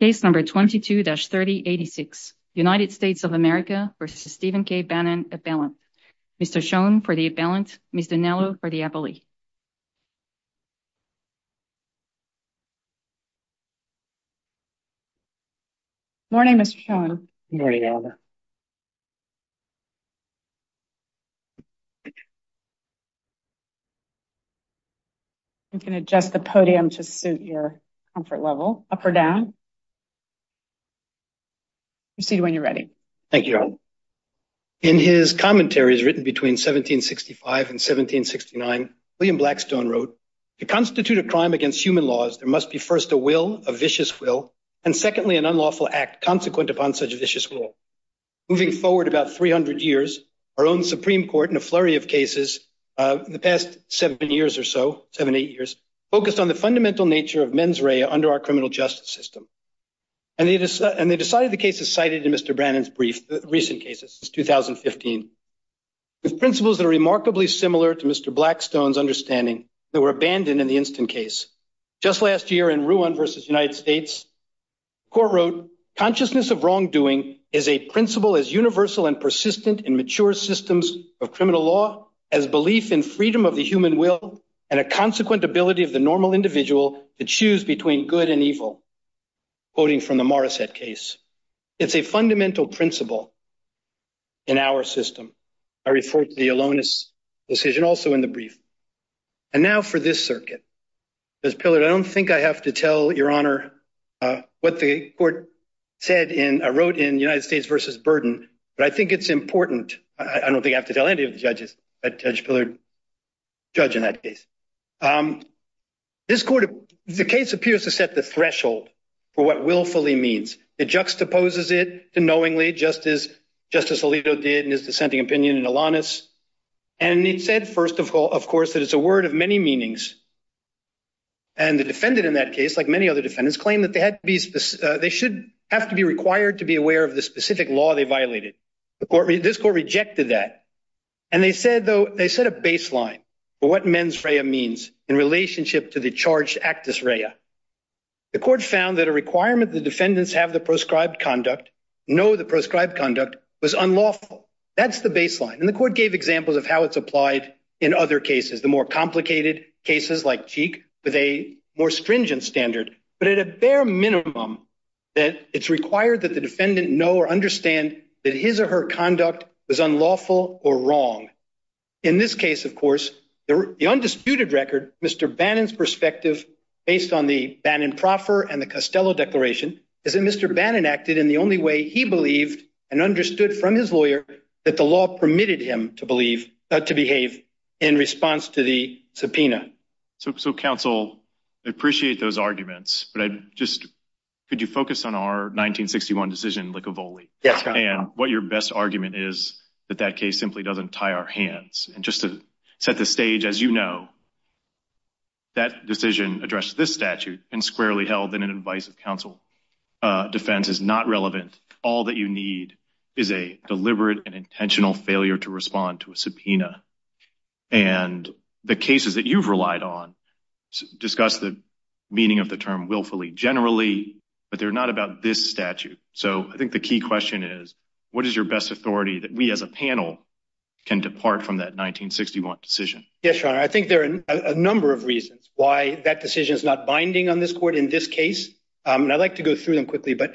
Case number 22-3086, United States of America v. Stephen K. Bannon, appellant. Mr. Schoen for the appellant, Ms. Dinello for the appellee. Morning, Mr. Schoen. Morning, Elinor. You can adjust the podium to suit your comfort level. Up or down? Proceed when you're ready. Thank you, Elinor. In his commentaries written between 1765 and 1769, William Blackstone wrote, to constitute a crime against human laws, there must be first a will, a vicious will, and secondly, an unlawful act consequent upon such a vicious will. Moving forward about 300 years, our own Supreme Court in a flurry of cases in the past seven years or so, seven, eight years, focused on the fundamental nature of mens rea under our criminal justice system. And they decided the cases cited in Mr. Bannon's brief, recent cases, it's 2015, with principles that are remarkably similar to Mr. Blackstone's understanding that were abandoned in the instant case. Just last year in Ruan v. United States, court wrote, consciousness of wrongdoing is a principle as universal and persistent in mature systems of criminal law as belief in freedom of the human will and a consequent ability of the normal individual to choose between good and evil, quoting from the Morrissette case. It's a fundamental principle in our system. I refer to the Alonis decision also in the brief. And now for this circuit. Judge Pillard, I don't think I have to tell your honor what the court said in, I wrote in United States v. Burden, but I think it's important. I don't think I have to tell any of the judges, Judge Pillard, judge in that case. This court, the case appears to set the threshold for what willfully means. It juxtaposes it to knowingly, just as Justice Alito did in his dissenting opinion in Alonis. And it said, first of all, of course, that it's a word of many meanings. And the defendant in that case, like many other defendants, claimed that they should have to be required to be aware of the specific law they violated. This court rejected that. And they said, though, they set a baseline for what mens rea means in relationship to the charged actus rea. The court found that a requirement the defendants have the proscribed conduct, know the proscribed conduct was unlawful. That's the baseline. And the court gave examples of how it's applied in other cases, the more complicated cases like Cheek with a more stringent standard, but at a bare minimum, that it's required that the defendant know or understand that his or her conduct was unlawful or wrong. In this case, of course, the undisputed record, Mr. Bannon's perspective, based on the Bannon-Proffer and the Costello Declaration, is that Mr. Bannon acted in the only way he believed and understood from his lawyer that the law permitted him to believe, to behave in response to the subpoena. So counsel, I appreciate those arguments, but I just, could you focus on our 1961 decision, Licovoli? Yes, counsel. And what your best argument is that that case simply doesn't tie our hands. And just to set the stage, as you know, that decision addressed this statute and squarely held in an advice of counsel. Defense is not relevant. All that you need is a deliberate and intentional failure to respond to a subpoena. And the cases that you've relied on discuss the meaning of the term willfully generally, but they're not about this statute. So I think the key question is, what is your best authority that we as a panel can depart from that 1961 decision? Yes, your honor. I think there are a number of reasons why that decision is not binding on this court in this case. And I'd like to go through them quickly, but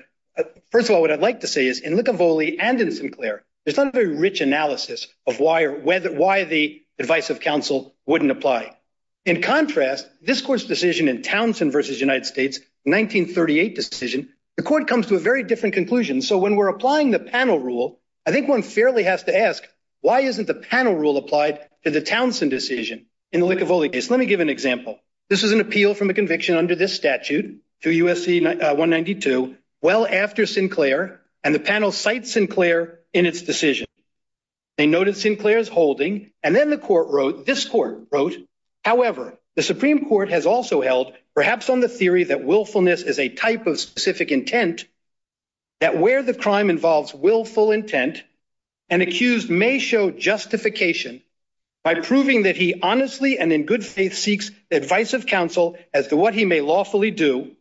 first of all, what I'd like to say is, in Licovoli and in Sinclair, there's not a very rich analysis of why the advice of counsel wouldn't apply. In contrast, this court's decision in Townsend versus United States, 1938 decision, the court comes to a very different conclusion. So when we're applying the panel rule, I think one fairly has to ask, why isn't the panel rule applied to the Townsend decision in the Licovoli case? Let me give an example. This is an appeal from a conviction under this statute to USC 192, well after Sinclair, and the panel cites Sinclair in its decision. They noted Sinclair's holding, and then the court wrote, this court wrote, however, the Supreme Court has also held perhaps on the theory that willfulness is a type of specific intent that where the crime involves willful intent, an accused may show justification by proving that he honestly and in good faith seeks the advice of counsel as to what he may lawfully do,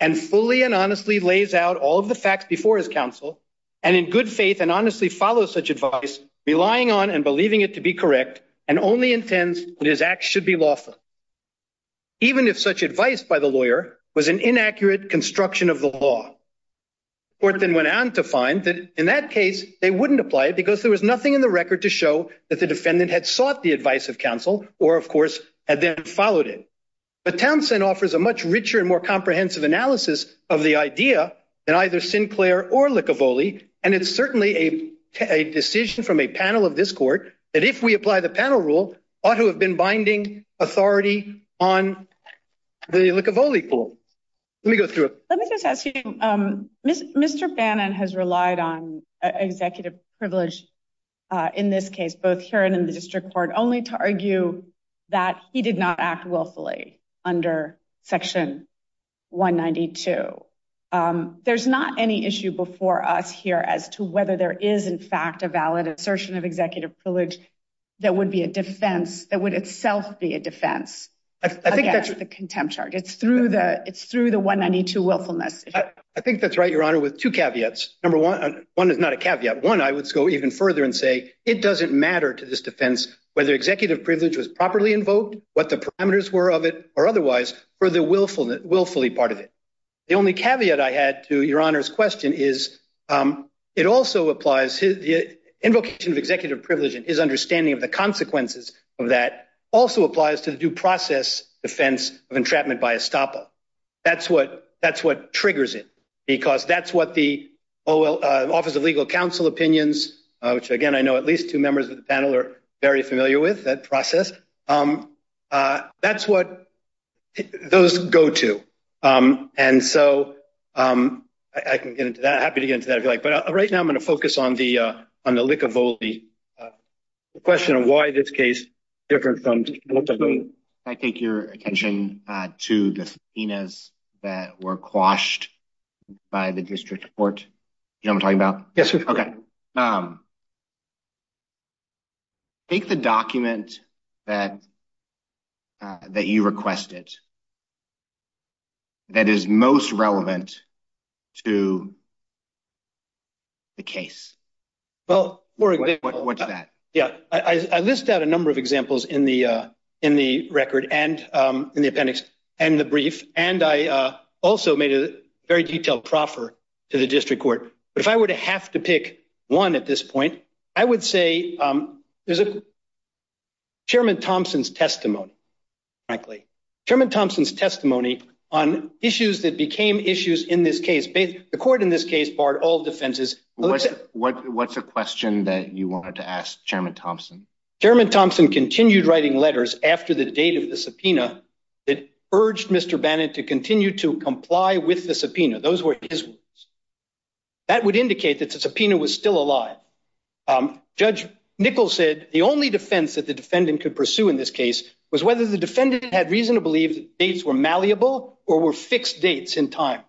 and fully and honestly lays out all of the facts before his counsel, and in good faith and honestly follows such advice, relying on and believing it to be correct, and only intends that his acts should be lawful. Even if such advice by the lawyer was an inaccurate construction of the law. Court then went on to find that in that case, they wouldn't apply it because there was nothing in the record to show that the defendant had sought the advice of counsel, or of course, had then followed it. But Townsend offers a much richer and more comprehensive analysis of the idea than either Sinclair or Licovoli, and it's certainly a decision from a panel of this court that if we apply the panel rule, ought to have been binding authority on the Licovoli pool. Let me go through it. Let me just ask you, Mr. Bannon has relied on executive privilege in this case, both here and in the district court, only to argue that he did not act willfully under section 192. There's not any issue before us here as to whether there is in fact a valid assertion of executive privilege that would be a defense, that would itself be a defense against the contempt charge. It's through the 192 willfulness. I think that's right, Your Honor, with two caveats. Number one, one is not a caveat. One, I would go even further and say, it doesn't matter to this defense whether executive privilege was properly invoked, what the parameters were of it, or otherwise for the willfully part of it. The only caveat I had to Your Honor's question is it also applies, the invocation of executive privilege and his understanding of the consequences of that also applies to the due process defense of entrapment by estoppel. That's what triggers it, because that's what the Office of Legal Counsel opinions, which again, I know at least two members of the panel are very familiar with that process. That's what those go to. And so, I can get into that, happy to get into that if you like, but right now I'm gonna focus on the Likavoli question of why this case is different from what I mean. I take your attention to the subpoenas that were quashed by the district court. You know what I'm talking about? Yes, sir. Okay. Take the document that you requested, that is most relevant to the case. Well, more exactly- What's that? Yeah, I list out a number of examples in the record and in the appendix and the brief, and I also made a very detailed proffer to the district court. But if I were to have to pick one at this point, I would say there's a chairman Thompson's testimony, frankly, chairman Thompson's testimony on issues that became issues in this case. The court in this case barred all defenses. What's the question that you wanted to ask chairman Thompson? Chairman Thompson continued writing letters after the date of the subpoena that urged Mr. Bannon to continue to comply with the subpoena. Those were his words. That would indicate that the subpoena was still alive. Judge Nichols said the only defense that the defendant could pursue in this case was whether the defendant had reason to believe that the dates were malleable or were fixed dates in time.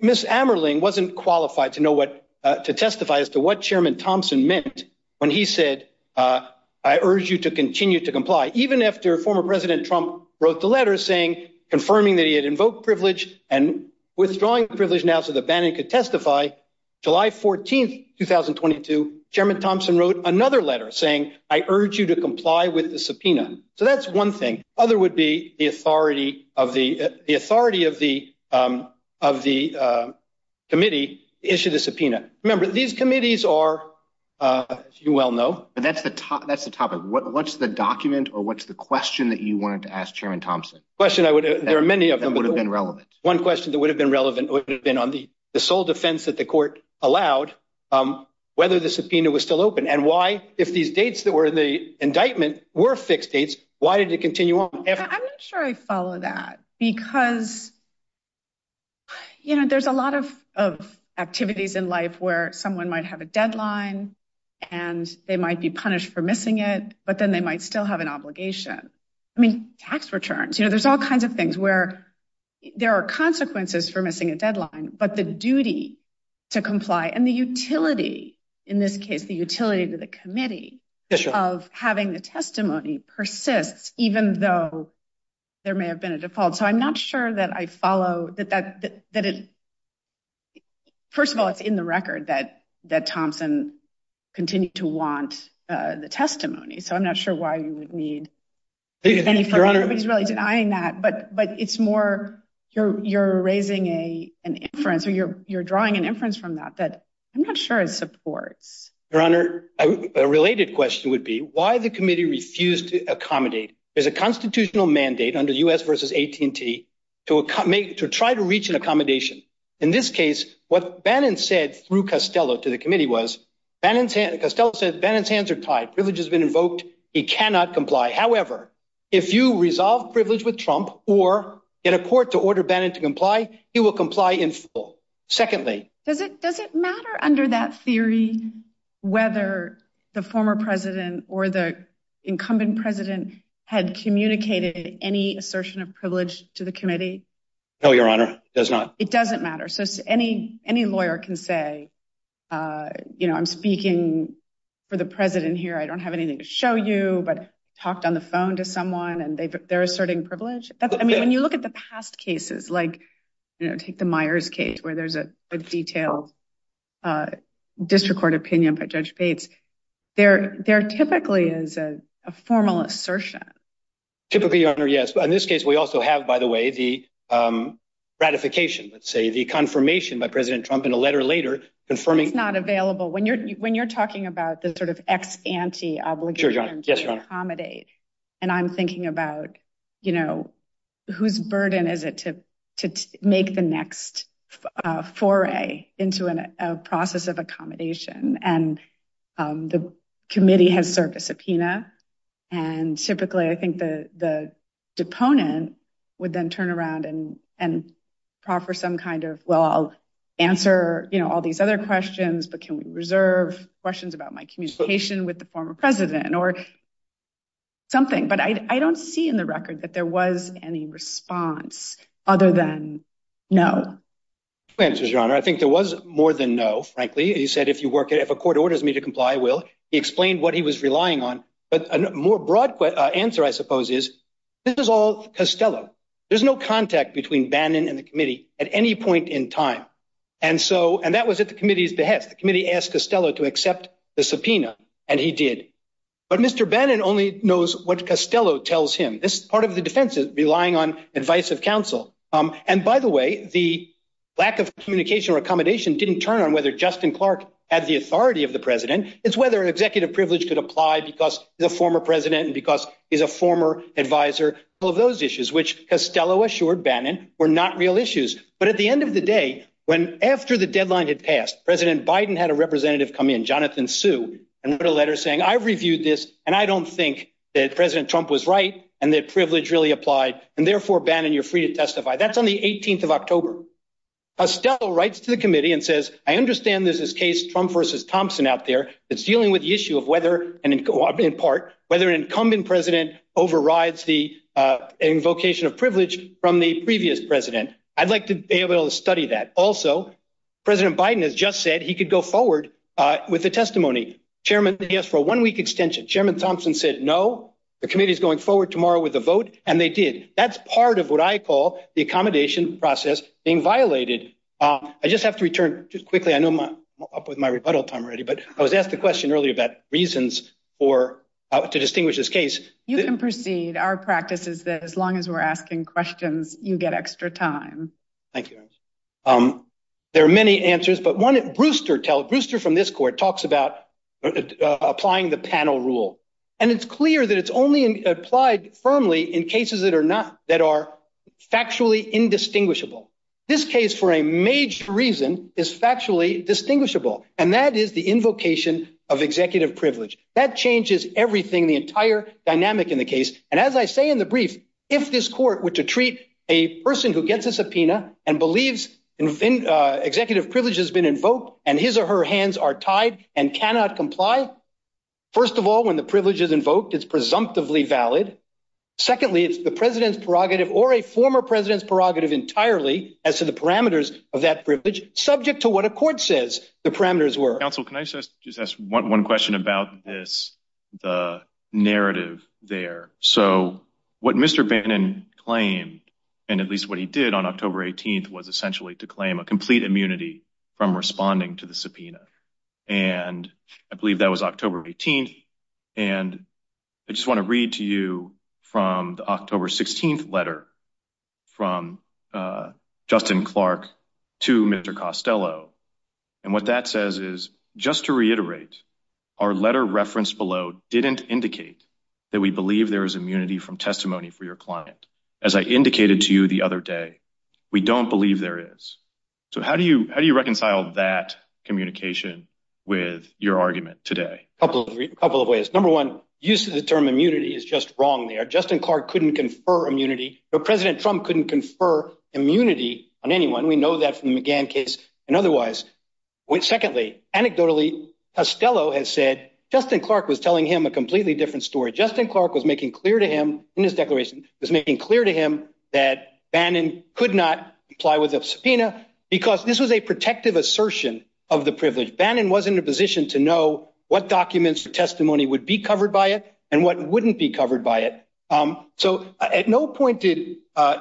Ms. Amerling wasn't qualified to know what, to testify as to what chairman Thompson meant when he said, I urge you to continue to comply. Even after former president Trump wrote the letter saying, confirming that he had invoked privilege and withdrawing privilege now so that Bannon could testify, July 14th, 2022, chairman Thompson wrote another letter saying, I urge you to comply with the subpoena. So that's one thing. Other would be the authority of the, the authority of the committee issued the subpoena. Remember these committees are, as you well know. But that's the topic. What's the document or what's the question that you wanted to ask chairman Thompson? Question I would, there are many of them. That would have been relevant. One question that would have been relevant would have been on the sole defense that the court allowed, whether the subpoena was still open and why, if these dates that were in the indictment were fixed dates, why did it continue on? I'm not sure I follow that because, you know, there's a lot of activities in life where someone might have a deadline and they might be punished for missing it, but then they might still have an obligation. I mean, tax returns, you know, there's all kinds of things where there are consequences for missing a deadline, but the duty to comply and the utility in this case, the utility to the committee of having the testimony persists, even though there may have been a default. So I'm not sure that I follow that, first of all, it's in the record that Thompson continued to want the testimony. So I'm not sure why you would need any further, everybody's really denying that, but it's more, you're raising an inference or you're drawing an inference from that, that I'm not sure it supports. Your honor, a related question would be why the committee refused to accommodate. There's a constitutional mandate under US versus AT&T to try to reach an accommodation. In this case, what Bannon said through Costello to the committee was, Costello said, Bannon's hands are tied, privilege has been invoked, he cannot comply. However, if you resolve privilege with Trump or get a court to order Bannon to comply, he will comply in full. Secondly. Does it matter under that theory, whether the former president or the incumbent president had communicated any assertion of privilege to the committee? No, your honor, does not. It doesn't matter. So any lawyer can say, I'm speaking for the president here, I don't have anything to show you, but talked on the phone to someone and they're asserting privilege. I mean, when you look at the past cases, like take the Myers case where there's a detailed district court opinion by Judge Bates, there typically is a formal assertion. Typically, your honor, yes. But in this case, we also have, by the way, the ratification, let's say, the confirmation by President Trump in a letter later, confirming- It's not available. When you're talking about the sort of ex-ante obligation to accommodate, and I'm thinking about, you know, whose burden is it to make the next foray into a process of accommodation? And the committee has served a subpoena, and typically I think the deponent would then turn around and proffer some kind of, well, I'll answer all these other questions, but can we reserve questions about my communication with the former president or something? But I don't see in the record that there was any response other than no. Two answers, your honor. I think there was more than no, frankly. He said, if a court orders me to comply, I will. He explained what he was relying on. But a more broad answer, I suppose, is, this is all Costello. There's no contact between Bannon and the committee at any point in time. And that was at the committee's behest. The committee asked Costello to accept the subpoena, and he did. But Mr. Bannon only knows what Costello tells him. This part of the defense is relying on advice of counsel. And by the way, the lack of communication or accommodation didn't turn on whether Justin Clark had the authority of the president. It's whether an executive privilege could apply because he's a former president and because he's a former advisor. All of those issues, which Costello assured Bannon, were not real issues. But at the end of the day, when after the deadline had passed, President Biden had a representative come in, Jonathan Suh, and wrote a letter saying, I've reviewed this, and I don't think that President Trump was right and that privilege really applied. And therefore, Bannon, you're free to testify. That's on the 18th of October. Costello writes to the committee and says, I understand there's this case, Trump versus Thompson out there, that's dealing with the issue of whether, in part, whether an incumbent president overrides the invocation of privilege from the previous president. I'd like to be able to study that. Also, President Biden has just said that he could go forward with the testimony. Chairman, he asked for a one-week extension. Chairman Thompson said, no, the committee's going forward tomorrow with a vote, and they did. That's part of what I call the accommodation process being violated. I just have to return, just quickly, I know I'm up with my rebuttal time already, but I was asked the question earlier about reasons to distinguish this case. You can proceed. Our practice is that as long as we're asking questions, you get extra time. Thank you. There are many answers, but one, Brewster from this court talks about applying the panel rule, and it's clear that it's only applied firmly in cases that are not, that are factually indistinguishable. This case, for a major reason, is factually distinguishable, and that is the invocation of executive privilege. That changes everything, the entire dynamic in the case, and as I say in the brief, if this court were to treat a person who gets a subpoena and believes executive privilege has been invoked and his or her hands are tied and cannot comply, first of all, when the privilege is invoked, it's presumptively valid. Secondly, it's the president's prerogative or a former president's prerogative entirely as to the parameters of that privilege, subject to what a court says the parameters were. Counsel, can I just ask one question about this, the narrative there? So what Mr. Bannon claimed, and at least what he did on October 18th, was essentially to claim a complete immunity from responding to the subpoena, and I believe that was October 18th, and I just want to read to you from the October 16th letter from Justin Clark to Mr. Costello, and what that says is, just to reiterate, our letter referenced below didn't indicate that we believe there is immunity from testimony for your client. As I indicated to you the other day, we don't believe there is. So how do you reconcile that communication with your argument today? A couple of ways. Number one, use of the term immunity is just wrong there. Justin Clark couldn't confer immunity, nor President Trump couldn't confer immunity on anyone. We know that from the McGahn case and otherwise. Secondly, anecdotally, Costello has said Justin Clark was telling him a completely different story. Justin Clark was making clear to him, in his declaration, was making clear to him that Bannon could not comply with a subpoena because this was a protective assertion of the privilege. Bannon wasn't in a position to know what documents or testimony would be covered by it and what wouldn't be covered by it. So at no point did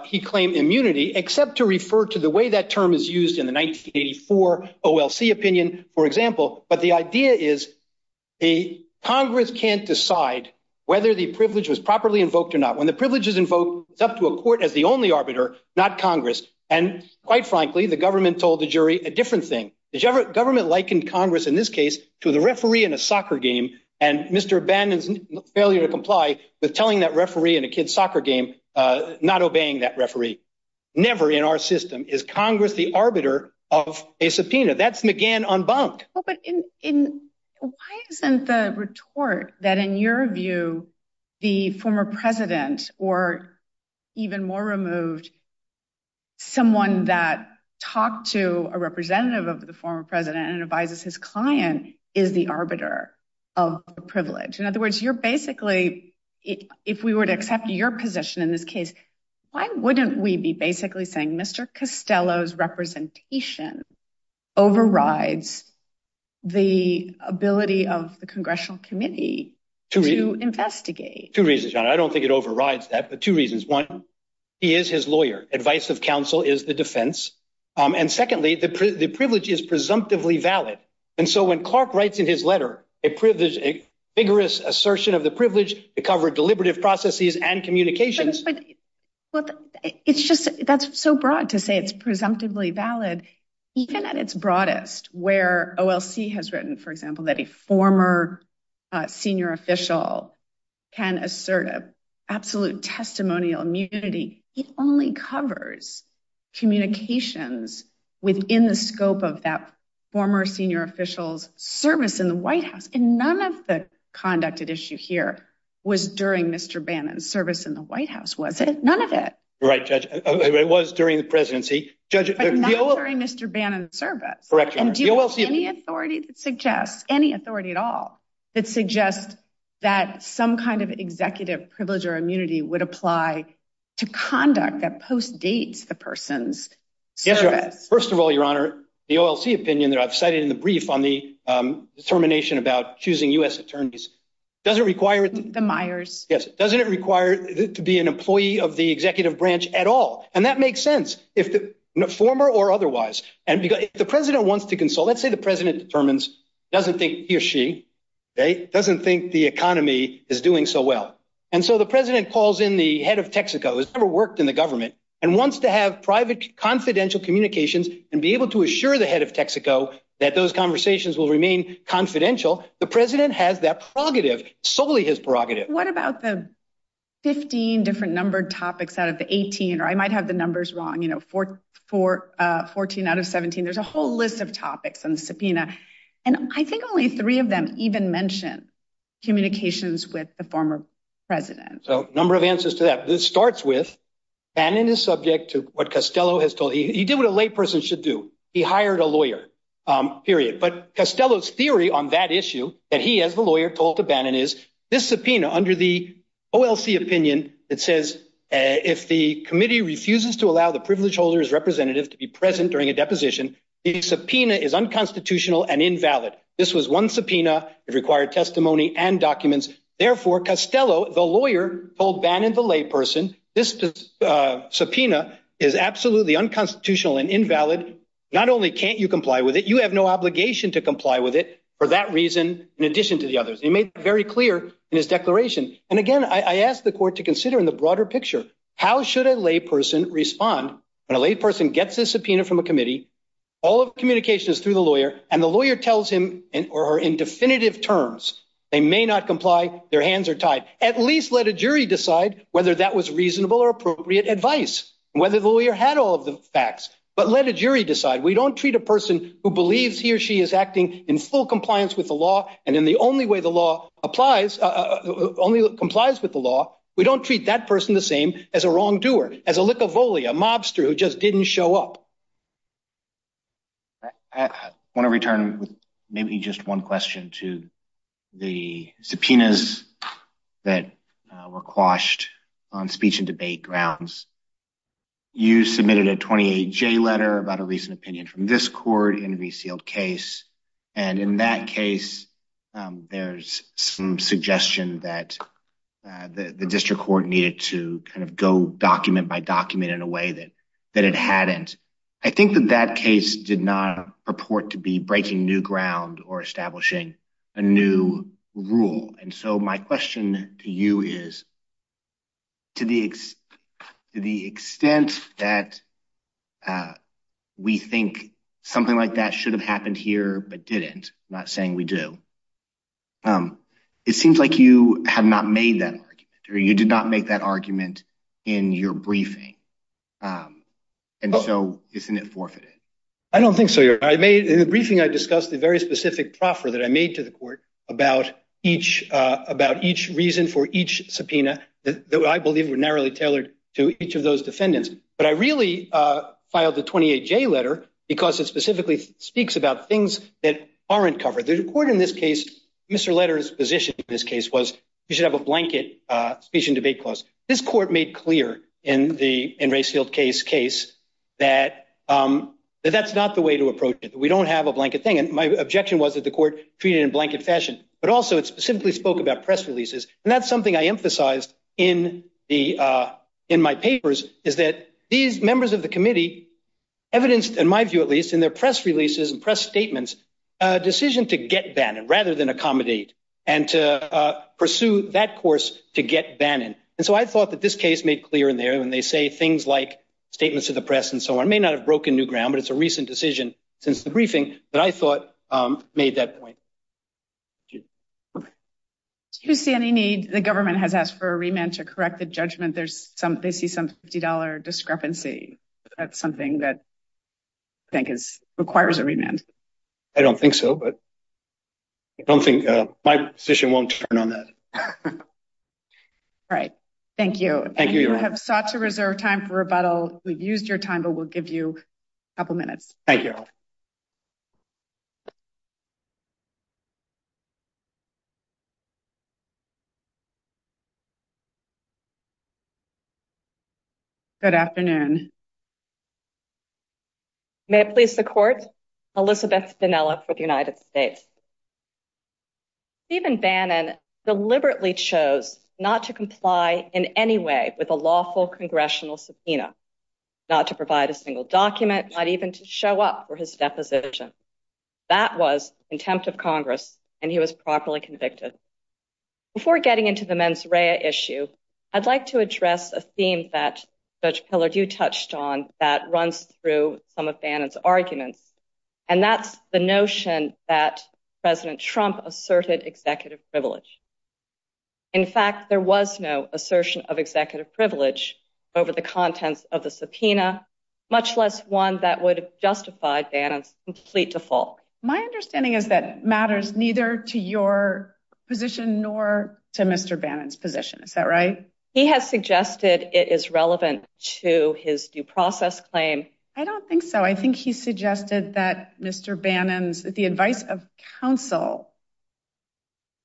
he claim immunity, except to refer to the way that term is used in the 1984 OLC opinion, for example, but the idea is Congress can't decide whether the privilege was properly invoked or not. When the privilege is invoked, it's up to a court as the only arbiter, not Congress. And quite frankly, the government told the jury a different thing. The government likened Congress, in this case, to the referee in a soccer game, and Mr. Bannon's failure to comply with telling that referee in a kid's soccer game not obeying that referee. Never in our system is Congress the arbiter of a subpoena. That's McGahn unbunked. Well, but why isn't the retort that, in your view, the former president, or even more removed, someone that talked to a representative of the former president and advises his client is the arbiter of the privilege? In other words, you're basically, if we were to accept your position in this case, why wouldn't we be basically saying Mr. Costello's representation overrides the ability of the Congressional Committee to investigate? Two reasons, John. I don't think it overrides that, but two reasons. One, he is his lawyer. Advice of counsel is the defense. And secondly, the privilege is presumptively valid. And so when Clark writes in his letter a vigorous assertion of the privilege to cover deliberative processes and communications- But it's just, that's so broad to say it's presumptively valid, even at its broadest, where OLC has written, for example, that a former senior official can assert absolute testimonial immunity, it only covers communications within the scope of that former senior official's service in the White House. And none of the conducted issue here was during Mr. Bannon's service in the White House, was it? None of it. Right, Judge. It was during the presidency. But not during Mr. Bannon's service. Correct, Your Honor. And do you have any authority that suggests, any authority at all, that suggests that some kind of executive privilege or immunity would apply to conduct that postdates the person's service? First of all, Your Honor, the OLC opinion that I've cited in the brief on the determination about choosing U.S. attorneys doesn't require- The Myers. Yes, doesn't it require to be an employee of the executive branch at all? And that makes sense, former or otherwise. And if the president wants to consult, let's say the president determines, doesn't think he or she, doesn't think the economy is doing so well. And so the president calls in the head of Texaco, who's never worked in the government, and wants to have private confidential communications and be able to assure the head of Texaco that those conversations will remain confidential, the president has that prerogative, solely his prerogative. What about the 15 different numbered topics out of the 18, or I might have the numbers wrong, you know, 14 out of 17, there's a whole list of topics on the subpoena. And I think only three of them even mention communications with the former president. So number of answers to that. This starts with, Bannon is subject to what Costello has told, he did what a lay person should do, he hired a lawyer, period. But Costello's theory on that issue, that he as the lawyer told to Bannon is, this subpoena under the OLC opinion, it says, if the committee refuses to allow the privileged holder's representative to be present during a deposition, the subpoena is unconstitutional and invalid. This was one subpoena, it required testimony and documents. Therefore, Costello, the lawyer told Bannon, the lay person, this subpoena is absolutely unconstitutional and invalid. Not only can't you comply with it, you have no obligation to comply with it, for that reason, in addition to the others. He made it very clear in his declaration. And again, I asked the court to consider in the broader picture, how should a lay person respond when a lay person gets a subpoena from a committee, all of communication is through the lawyer, and the lawyer tells him or her in definitive terms, they may not comply, their hands are tied. At least let a jury decide whether that was reasonable or appropriate advice, whether the lawyer had all of the facts, but let a jury decide. We don't treat a person who believes he or she is acting in full compliance with the law, and in the only way the law applies, only complies with the law, we don't treat that person the same as a wrongdoer, as a lick of bully, a mobster who just didn't show up. I wanna return with maybe just one question to the subpoenas that were quashed on speech and debate grounds. You submitted a 28-J letter about a recent opinion from this court in a resealed case, and in that case, there's some suggestion that the district court needed to kind of go document by document in a way that it hadn't. I think that that case did not purport to be breaking new ground or establishing a new rule. And so my question to you is, to the extent that we think something like that should have happened here, but didn't, not saying we do, it seems like you have not made that argument, or you did not make that argument in your briefing. And so isn't it forfeited? I don't think so. In the briefing, I discussed the very specific proffer that I made to the court about each reason for each subpoena that I believe were narrowly tailored to each of those defendants. But I really filed the 28-J letter because it specifically speaks about things that aren't covered. The court in this case, Mr. Letter's position in this case was you should have a blanket speech and debate clause. This court made clear in the in-resealed case that that's not the way to approach it. We don't have a blanket thing. And my objection was that the court treated it in blanket fashion, but also it specifically spoke about press releases. And that's something I emphasized in my papers is that these members of the committee evidenced, in my view, at least, in their press releases and press statements, a decision to get Bannon rather than accommodate, and to pursue that course to get Bannon. And so I thought that this case made clear in there when they say things like statements to the press and so on may not have broken new ground, but it's a recent decision since the briefing that I thought made that point. Do you see any need? The government has asked for a remand to correct the judgment. There's some, they see some $50 discrepancy. That's something that I think requires a remand. I don't think so, but I don't think, my position won't turn on that. All right, thank you. Thank you, Your Honor. You have sought to reserve time for rebuttal. We've used your time, but we'll give you a couple minutes. Thank you. Good afternoon. May it please the court, Elizabeth Spinella for the United States. Stephen Bannon deliberately chose not to comply in any way with a lawful congressional subpoena, not to provide a single document, not even to show up for his deposition. And I think that's a very important point that we need to make. And he was properly convicted. Before getting into the mens rea issue, I'd like to address a theme that Judge Pillard, you touched on that runs through some of Bannon's arguments. And that's the notion that President Trump asserted executive privilege. In fact, there was no assertion of executive privilege over the contents of the subpoena, much less one that would justify Bannon's complete default. My understanding is that matters neither to your position nor to Mr. Bannon's position. Is that right? He has suggested it is relevant to his due process claim. I don't think so. I think he suggested that Mr. Bannon's, the advice of counsel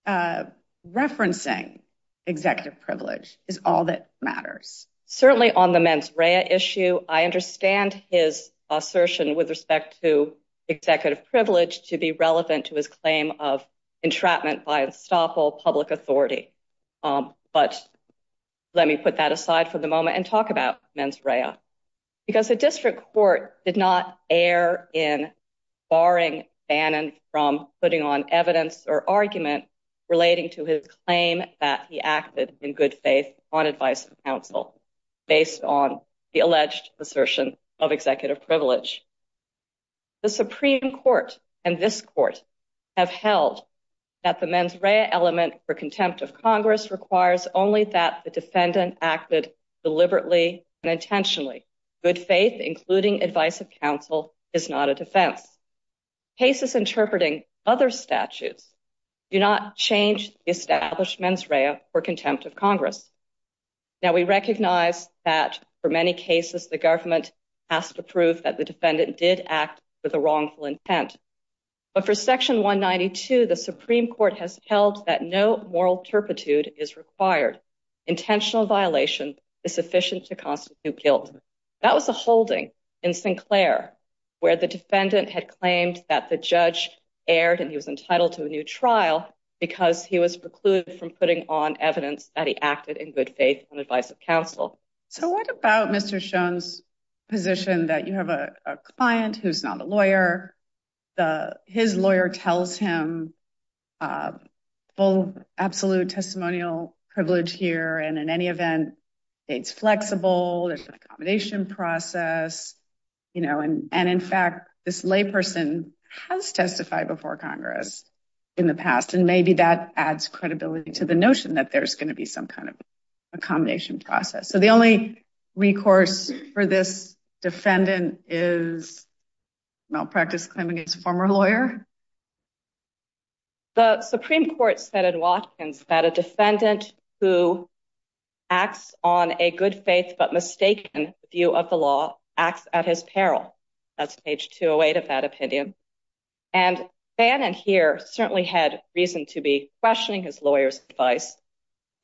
referencing executive privilege is all that matters. Certainly on the mens rea issue, I understand his assertion with respect to executive privilege to be relevant to his claim of entrapment by unstoppable public authority. But let me put that aside for the moment and talk about mens rea. Because the district court did not err in barring Bannon from putting on evidence or argument relating to his claim that he acted in good faith on advice of counsel, based on the alleged assertion of executive privilege. The Supreme Court and this court have held that the mens rea element for contempt of Congress requires only that the defendant acted deliberately and intentionally. Good faith, including advice of counsel is not a defense. Cases interpreting other statutes do not change the established mens rea for contempt of Congress. Now we recognize that for many cases, the government has to prove that the defendant did act with a wrongful intent. But for section 192, the Supreme Court has held that no moral turpitude is required. Intentional violation is sufficient to constitute guilt. That was a holding in Sinclair where the defendant had claimed that the judge erred and he was entitled to a new trial because he was precluded from putting on evidence that he acted in good faith on advice of counsel. So what about Mr. Schon's position that you have a client who's not a lawyer, his lawyer tells him full absolute testimonial privilege here and in any event, it's flexible, there's an accommodation process, and in fact, this lay person has testified before Congress in the past and maybe that adds credibility to the notion that there's gonna be some kind of accommodation process. So the only recourse for this defendant is malpractice claim against a former lawyer? The Supreme Court said in Watkins that a defendant who acts on a good faith but mistaken view of the law acts at his peril. That's page 208 of that opinion. And Bannon here certainly had reason to be questioning his lawyer's advice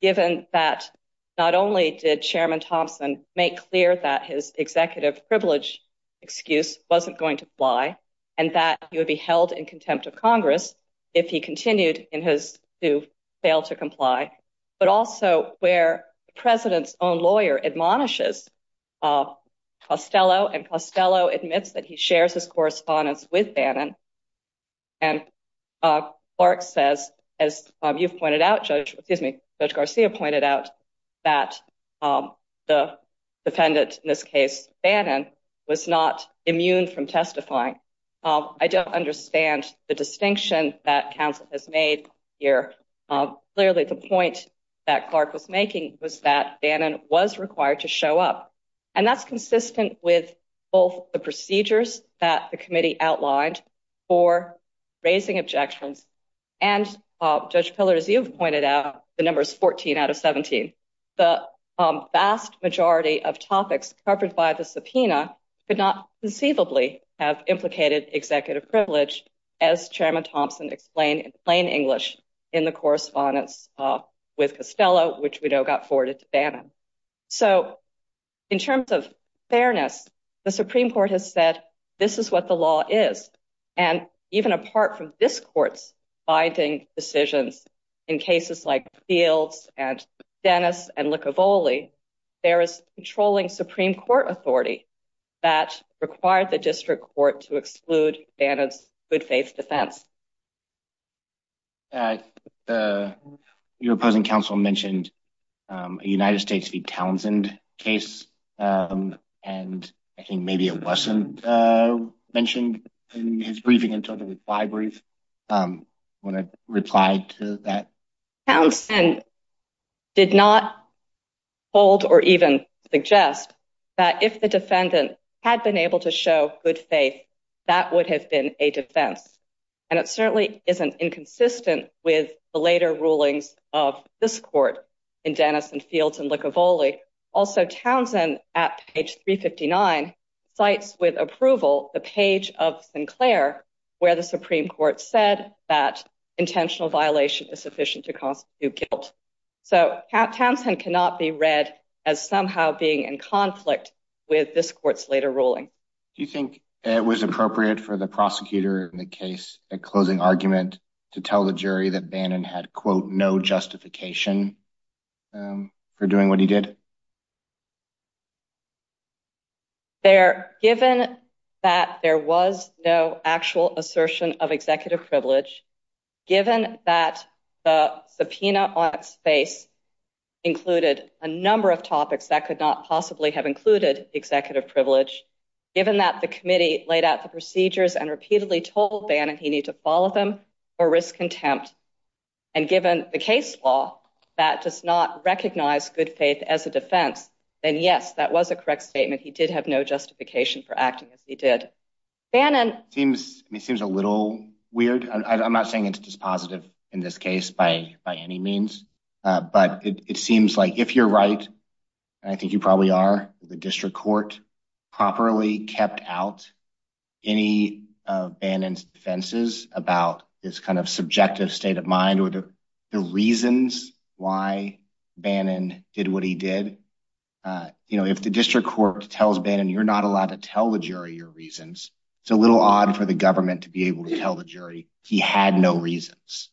given that not only did Chairman Thompson make clear that his executive privilege excuse wasn't going to apply and that he would be held in contempt of Congress if he continued to fail to comply, but also where the president's own lawyer admonishes Costello and Costello admits that he shares his correspondence with Bannon and Clark says, as you've pointed out, Judge, excuse me, Judge Garcia pointed out that the defendant in this case, Bannon, was not immune from testifying. I don't understand the distinction that counsel has made here. Clearly the point that Clark was making was that Bannon was required to show up and that's consistent with both the procedures that the committee outlined for raising objections. And Judge Pillar, as you've pointed out, the number is 14 out of 17. The vast majority of topics covered by the subpoena could not conceivably have implicated executive privilege as Chairman Thompson explained in plain English in the correspondence with Costello, which we know got forwarded to Bannon. So in terms of fairness, the Supreme Court has said, this is what the law is. And even apart from this court's binding decisions in cases like Fields and Dennis and Licavoli, there is controlling Supreme Court authority that required the district court to exclude Bannon's good faith defense. Your opposing counsel mentioned a United States v. Townsend case and I think maybe it wasn't mentioned in his briefing in terms of his brief when I replied to that. Townsend did not hold or even suggest that if the defendant had been able to show good faith, that would have been a defense. And it certainly isn't inconsistent with the later rulings of this court in Dennis and Fields and Licavoli. Also Townsend at page 359, cites with approval the page of Sinclair where the Supreme Court said that intentional violation is sufficient to constitute guilt. So Townsend cannot be read as somehow being in conflict with this court's later ruling. Do you think it was appropriate for the prosecutor in the case, a closing argument to tell the jury that Bannon had quote, no justification for doing what he did? Given that there was no actual assertion of executive privilege, given that the subpoena on its face included a number of topics that could not possibly have included executive privilege, given that the committee laid out the procedures and repeatedly told Bannon he need to follow them for risk contempt, and given the case law that does not recognize good faith as a defense, then yes, that was a correct statement. He did have no justification for acting as he did. Bannon- It seems a little weird. I'm not saying it's just positive in this case by any means, but it seems like if you're right, and I think you probably are, the district court properly kept out any of Bannon's defenses about his kind of subjective state of mind or the reasons why Bannon did what he did. If the district court tells Bannon you're not allowed to tell the jury your reasons, it's a little odd for the government to be able to tell the jury he had no reasons.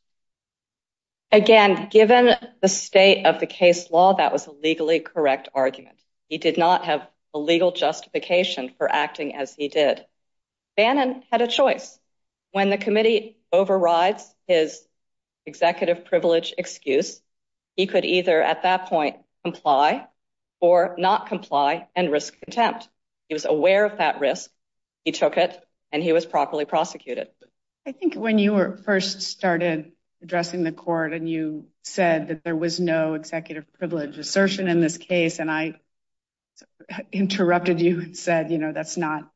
Again, given the state of the case law, that was a legally correct argument. He did not have a legal justification for acting as he did. Bannon had a choice. When the committee overrides his executive privilege excuse, he could either at that point comply or not comply and risk contempt. He was aware of that risk. He took it and he was properly prosecuted. I think when you first started addressing the court and you said that there was no executive privilege assertion in this case, and I interrupted you and said, that's not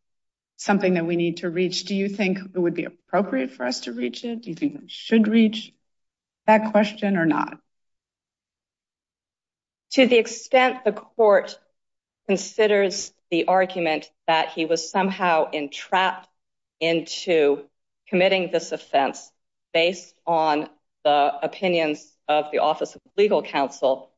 something that we need to reach. Do you think it would be appropriate for us to reach it? Do you think we should reach that question or not? To the extent the court considers the argument that he was somehow entrapped into committing this offense based on the opinions of the office of legal counsel,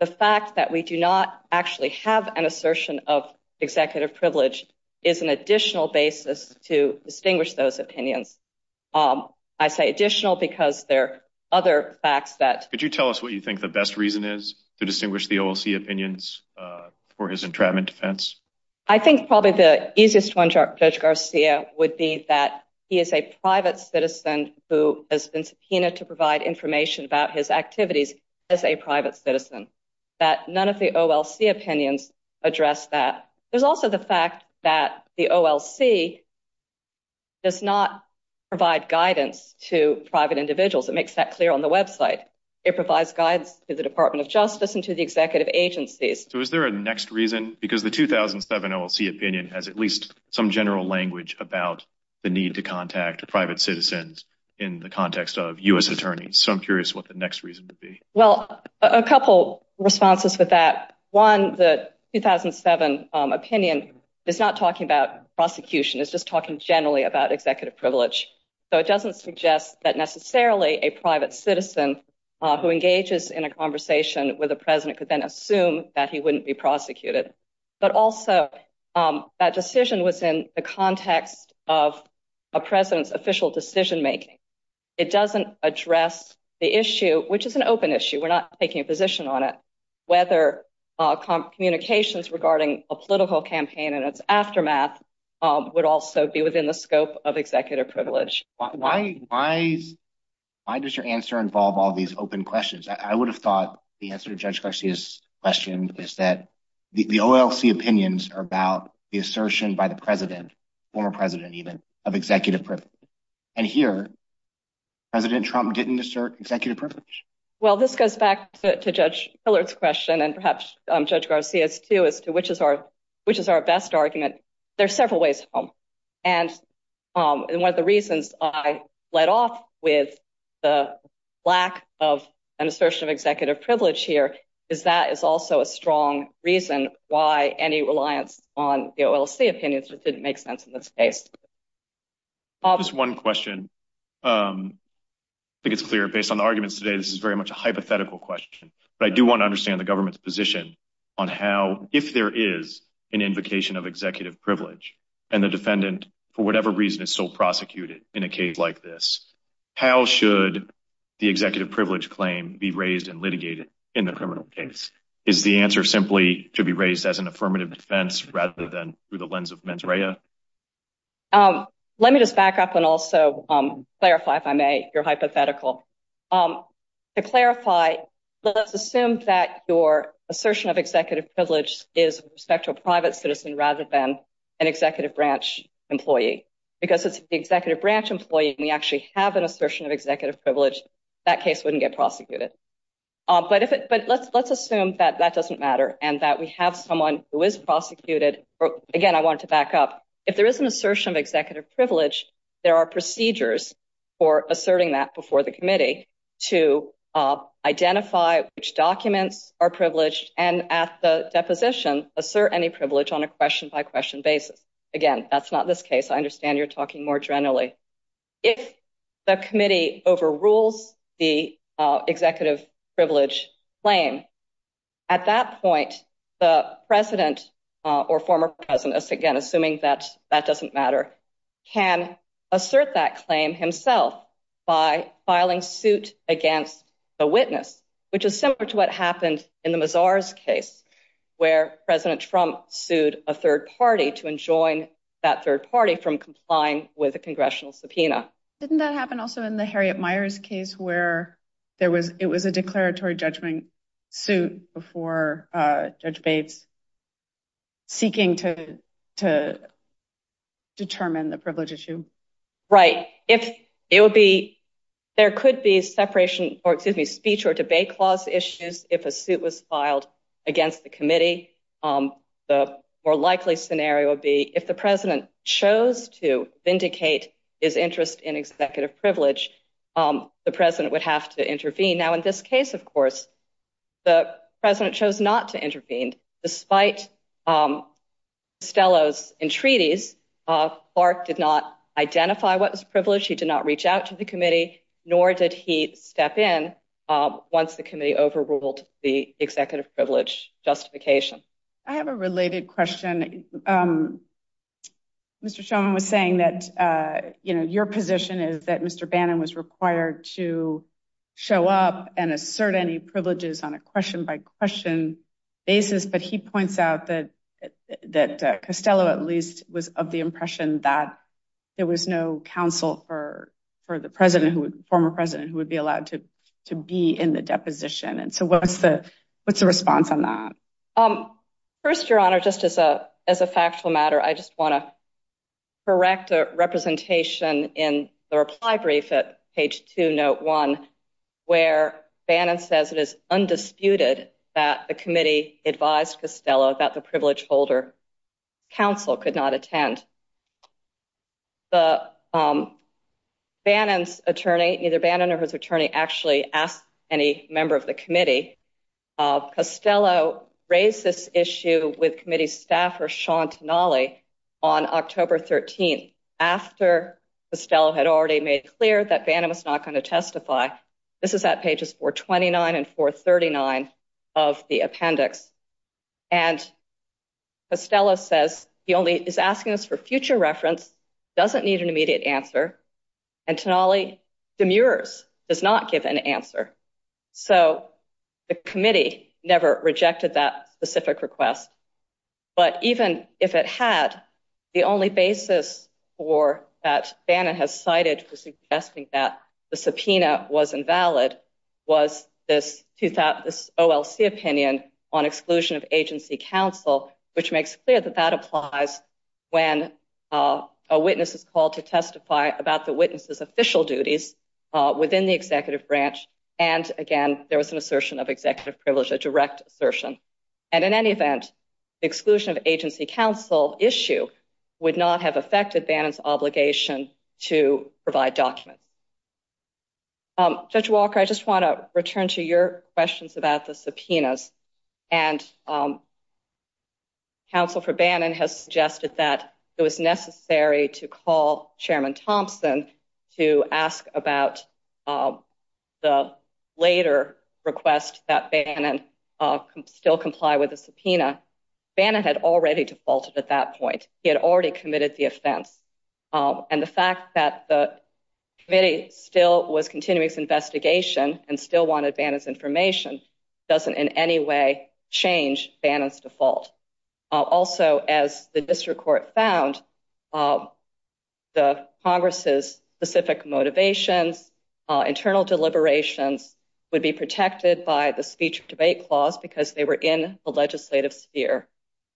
the fact that we do not actually have an assertion of executive privilege is an additional basis to distinguish those opinions. I say additional because there are other facts that- Could you tell us what you think the best reason is to distinguish the OLC opinions for his entrapment defense? I think probably the easiest one, Judge Garcia, would be that he is a private citizen who has been subpoenaed to provide information about his activities as a private citizen, that none of the OLC opinions address that. There's also the fact that the OLC does not provide guidance to private individuals. It makes that clear on the website. It provides guides to the Department of Justice and to the executive agencies. So is there a next reason? Because the 2007 OLC opinion has at least some general language about the need to contact private citizens in the context of U.S. attorneys. So I'm curious what the next reason would be. Well, a couple responses with that. One, the 2007 opinion is not talking about prosecution. It's just talking generally about executive privilege. So it doesn't suggest that necessarily a private citizen who engages in a conversation with a president could then assume that he wouldn't be prosecuted. But also, that decision was in the context of a president's official decision-making. It doesn't address the issue, which is an open issue. We're not taking a position on it, whether communications regarding a political campaign and its aftermath would also be within the scope of executive privilege. Why does your answer involve all these open questions? I would have thought the answer to Judge Garcia's question is that the OLC opinions are about the assertion by the president, former president even, of executive privilege. And here, President Trump didn't assert executive privilege. Well, this goes back to Judge Pillard's question and perhaps Judge Garcia's too, as to which is our best argument. There are several ways home. And one of the reasons I led off with the lack of an assertion of executive privilege here is that is also a strong reason why any reliance on the OLC opinions just didn't make sense in this case. I'll just one question. I think it's clear based on the arguments today, this is very much a hypothetical question, but I do want to understand the government's position on how, if there is an invocation of executive privilege and the defendant, for whatever reason, is still prosecuted in a case like this, how should the executive privilege claim be raised and litigated in the criminal case? as an affirmative defense rather than through the lens of mens rea? Let me just back up and also clarify, if I may, your hypothetical. To clarify, let's assume that your assertion of executive privilege is respect to a private citizen rather than an executive branch employee, because it's the executive branch employee and we actually have an assertion of executive privilege, that case wouldn't get prosecuted. But let's assume that that doesn't matter and that we have someone who is prosecuted. Again, I wanted to back up. If there is an assertion of executive privilege, there are procedures for asserting that before the committee to identify which documents are privileged and at the deposition, assert any privilege on a question-by-question basis. Again, that's not this case. I understand you're talking more generally. If the committee overrules the executive privilege claim, at that point, the president or former presidents, just again, assuming that that doesn't matter, can assert that claim himself by filing suit against the witness, which is similar to what happened in the Mazar's case where President Trump sued a third party to enjoin that third party from complying with a congressional subpoena. Didn't that happen also in the Harriet Meyer's case where it was a declaratory judgment suit before Judge Bates seeking to determine the privilege issue? Right. There could be speech or debate clause issues if a suit was filed against the committee. The more likely scenario would be if the president chose to vindicate his interest in executive privilege, Now, in this case, of course, the president chose not to intervene. Despite Stello's entreaties, Clark did not identify what was privilege. He did not reach out to the committee, nor did he step in once the committee overruled the executive privilege justification. I have a related question. Mr. Shulman was saying that your position is that Mr. Bannon was required to show up and assert any privileges on a question-by-question basis, but he points out that Costello, at least, was of the impression that there was no counsel for the former president who would be allowed to be in the deposition. And so what's the response on that? First, Your Honor, just as a factual matter, I just wanna correct a representation in the reply brief at page two, note one, where Bannon says it is undisputed that the committee advised Costello that the privilege-holder counsel could not attend. The Bannon's attorney, either Bannon or his attorney, actually asked any member of the committee. Costello raised this issue with committee staffer, Sean Tenali, on October 13th, after Costello had already made clear that Bannon was not gonna testify. This is at pages 429 and 439 of the appendix. And Costello says he only is asking us for future reference, doesn't need an immediate answer, and Tenali demurs, does not give an answer. So the committee never rejected that specific request, but even if it had, the only basis for, that Bannon has cited for suggesting that the subpoena was invalid, was this OLC opinion on exclusion of agency counsel, which makes clear that that applies when a witness is called to testify about the witness's official duties within the executive branch. And again, there was an assertion of executive privilege, a direct assertion. And in any event, exclusion of agency counsel issue would not have affected Bannon's obligation to provide documents. Judge Walker, I just wanna return to your questions about the subpoenas. And counsel for Bannon has suggested that it was necessary to call Chairman Thompson to ask about the later request that Bannon still comply with the subpoena. Bannon had already defaulted at that point. He had already committed the offense. And the fact that the committee still was continuing its investigation and still wanted Bannon's information, doesn't in any way change Bannon's default. Also, as the district court found, the Congress's specific motivations, internal deliberations would be protected by the speech debate clause because they were in the legislative sphere.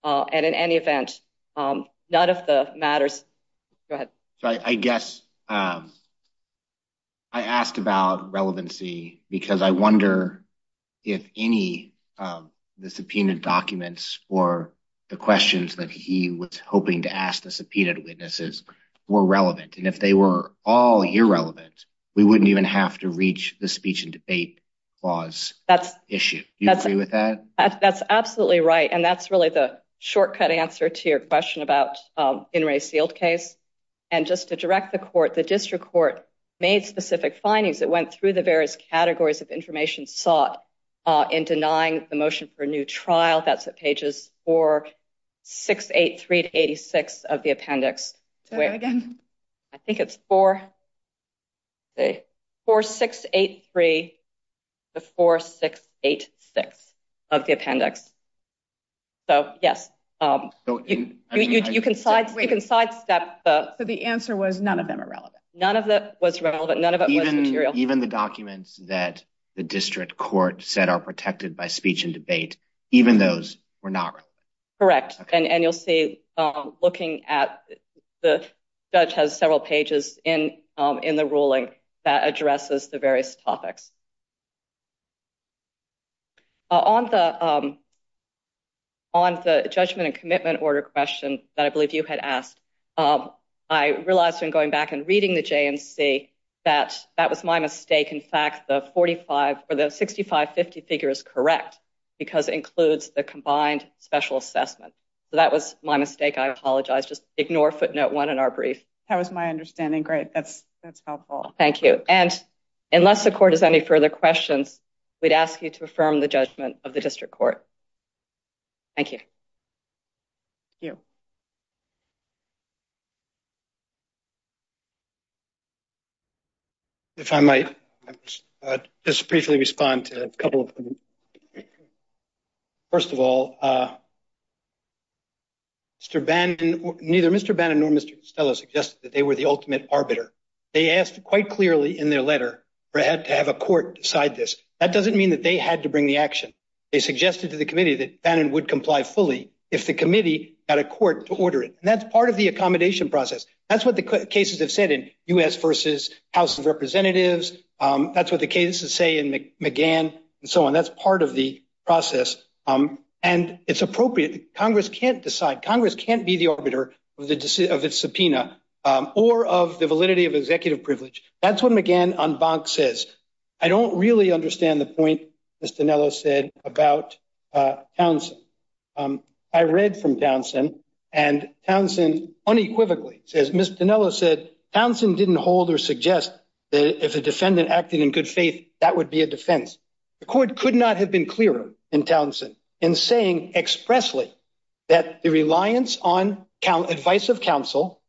And in any event, none of the matters... Go ahead. I guess I asked about relevancy because I wonder if any of the subpoenaed documents or the questions that he was hoping to ask the subpoenaed witnesses were relevant. And if they were all irrelevant, we wouldn't even have to reach the speech and debate clause issue. Do you agree with that? That's absolutely right. And that's really the shortcut answer to your question about In re Sealed case. And just to direct the court, the district court made specific findings that went through the various categories of information sought in denying the motion for a new trial. That's at pages 4683 to 86 of the appendix. Say that again. I think it's 4683 to 4686 of the appendix. So yes, you can sidestep the... So the answer was none of them are relevant. None of that was relevant. None of it was material. Even the documents that the district court said are protected by speech and debate, even those were not relevant. Correct. And you'll see looking at the judge has several pages in the ruling that addresses the various topics. On the judgment and commitment order question that I believe you had asked, I realized when going back and reading the JNC that that was my mistake. In fact, the 6550 figure is correct because it includes the combined special assessment. So that was my mistake. I apologize. Just ignore footnote one in our brief. That was my understanding. Great. That's helpful. Thank you. And unless the court has any further questions, we'd ask you to affirm the judgment of the district court. Thank you. Thank you. If I might just briefly respond to a couple of things. First of all, Mr. Bannon, neither Mr. Bannon nor Mr. Costello suggested that they were the ultimate arbiter. They asked quite clearly in their letter to have a court decide this. That doesn't mean that they had to bring the action. They suggested to the committee that Bannon would comply fully if the committee got a court to order it. And that's part of the accommodation process. That's what the cases have said in U.S. versus House of Representatives. That's what the cases say in McGann and so on. That's part of the process. And it's appropriate. Congress can't decide. Congress can't be the arbiter of its subpoena or of the validity of executive privilege. That's what McGann on Bonk says. I don't really understand the point Mr. Dinello said about Townsend. I read from Townsend and Townsend unequivocally says, Mr. Dinello said, Townsend didn't hold or suggest that if a defendant acted in good faith, that would be a defense. The court could not have been clearer in Townsend in saying expressly that the reliance on advice of counsel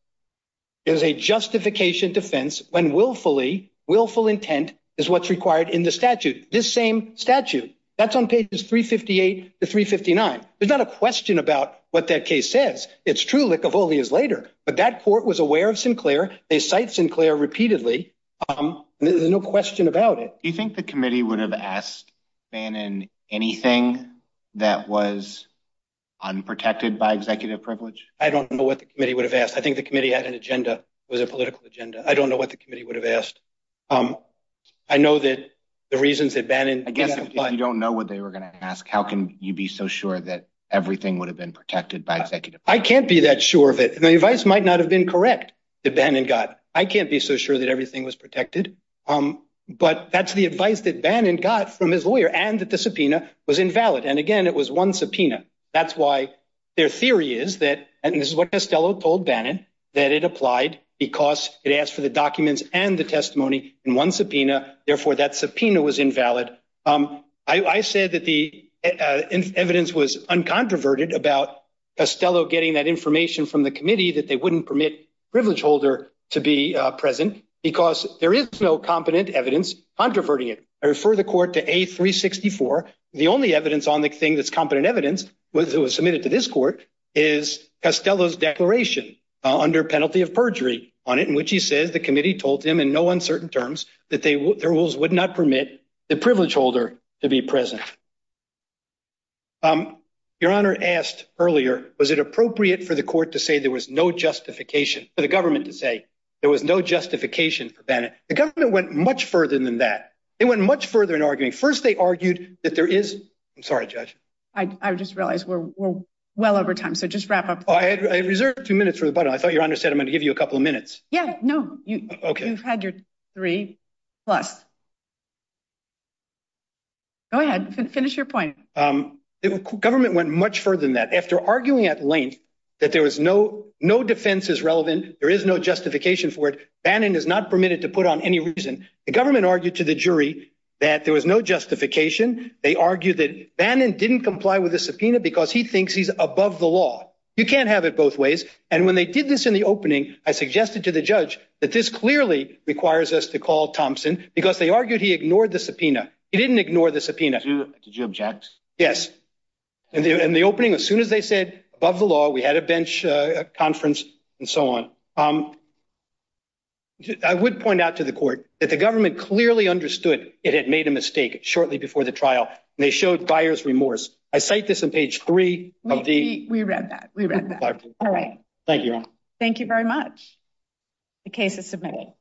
is a justification defense when willfully, willful intent is what's required in the statute. This same statute, that's on pages 358 to 359. There's not a question about what that case says. It's true, Likovoli is later, but that court was aware of Sinclair. They cite Sinclair repeatedly. There's no question about it. Do you think the committee would have asked Bannon anything that was unprotected by executive privilege? I don't know what the committee would have asked. I think the committee had an agenda, was a political agenda. I don't know what the committee would have asked. I know that the reasons that Bannon- I guess if you don't know what they were gonna ask, how can you be so sure that everything would have been protected by executive privilege? I can't be that sure of it. The advice might not have been correct that Bannon got. I can't be so sure that everything was protected, but that's the advice that Bannon got from his lawyer and that the subpoena was invalid. And again, it was one subpoena. That's why their theory is that, and this is what Costello told Bannon, that it applied because it asked for the documents and the testimony in one subpoena. Therefore, that subpoena was invalid. I said that the evidence was uncontroverted about Costello getting that information from the committee that they wouldn't permit privilege holder to be present because there is no competent evidence controverting it. I refer the court to A364. The only evidence on the thing that's competent evidence that was submitted to this court is Costello's declaration under penalty of perjury on it, in which he says the committee told him in no uncertain terms that their rules would not permit the privilege holder to be present. Your Honor asked earlier, was it appropriate for the court to say there was no justification, for the government to say there was no justification for Bannon? The government went much further than that. They went much further in arguing. First, they argued that there is, I'm sorry, Judge. I just realized we're well over time. So just wrap up. I reserved two minutes for the button. I thought your Honor said I'm gonna give you a couple of minutes. Yeah, no, you've had your three plus. Go ahead, finish your point. Government went much further than that. After arguing at length that there was no, no defense is relevant, there is no justification for it. Bannon is not permitted to put on any reason. The government argued to the jury that there was no justification. They argued that Bannon didn't comply with the subpoena because he thinks he's above the law. You can't have it both ways. And when they did this in the opening, I suggested to the judge that this clearly requires us to call Thompson because they argued he ignored the subpoena. He didn't ignore the subpoena. Did you object? Yes. In the opening, as soon as they said above the law, we had a bench conference and so on. I would point out to the court that the government clearly understood it had made a mistake shortly before the trial. They showed buyer's remorse. I cite this in page three of the- We read that, we read that. All right. Thank you. Thank you very much. The case is submitted.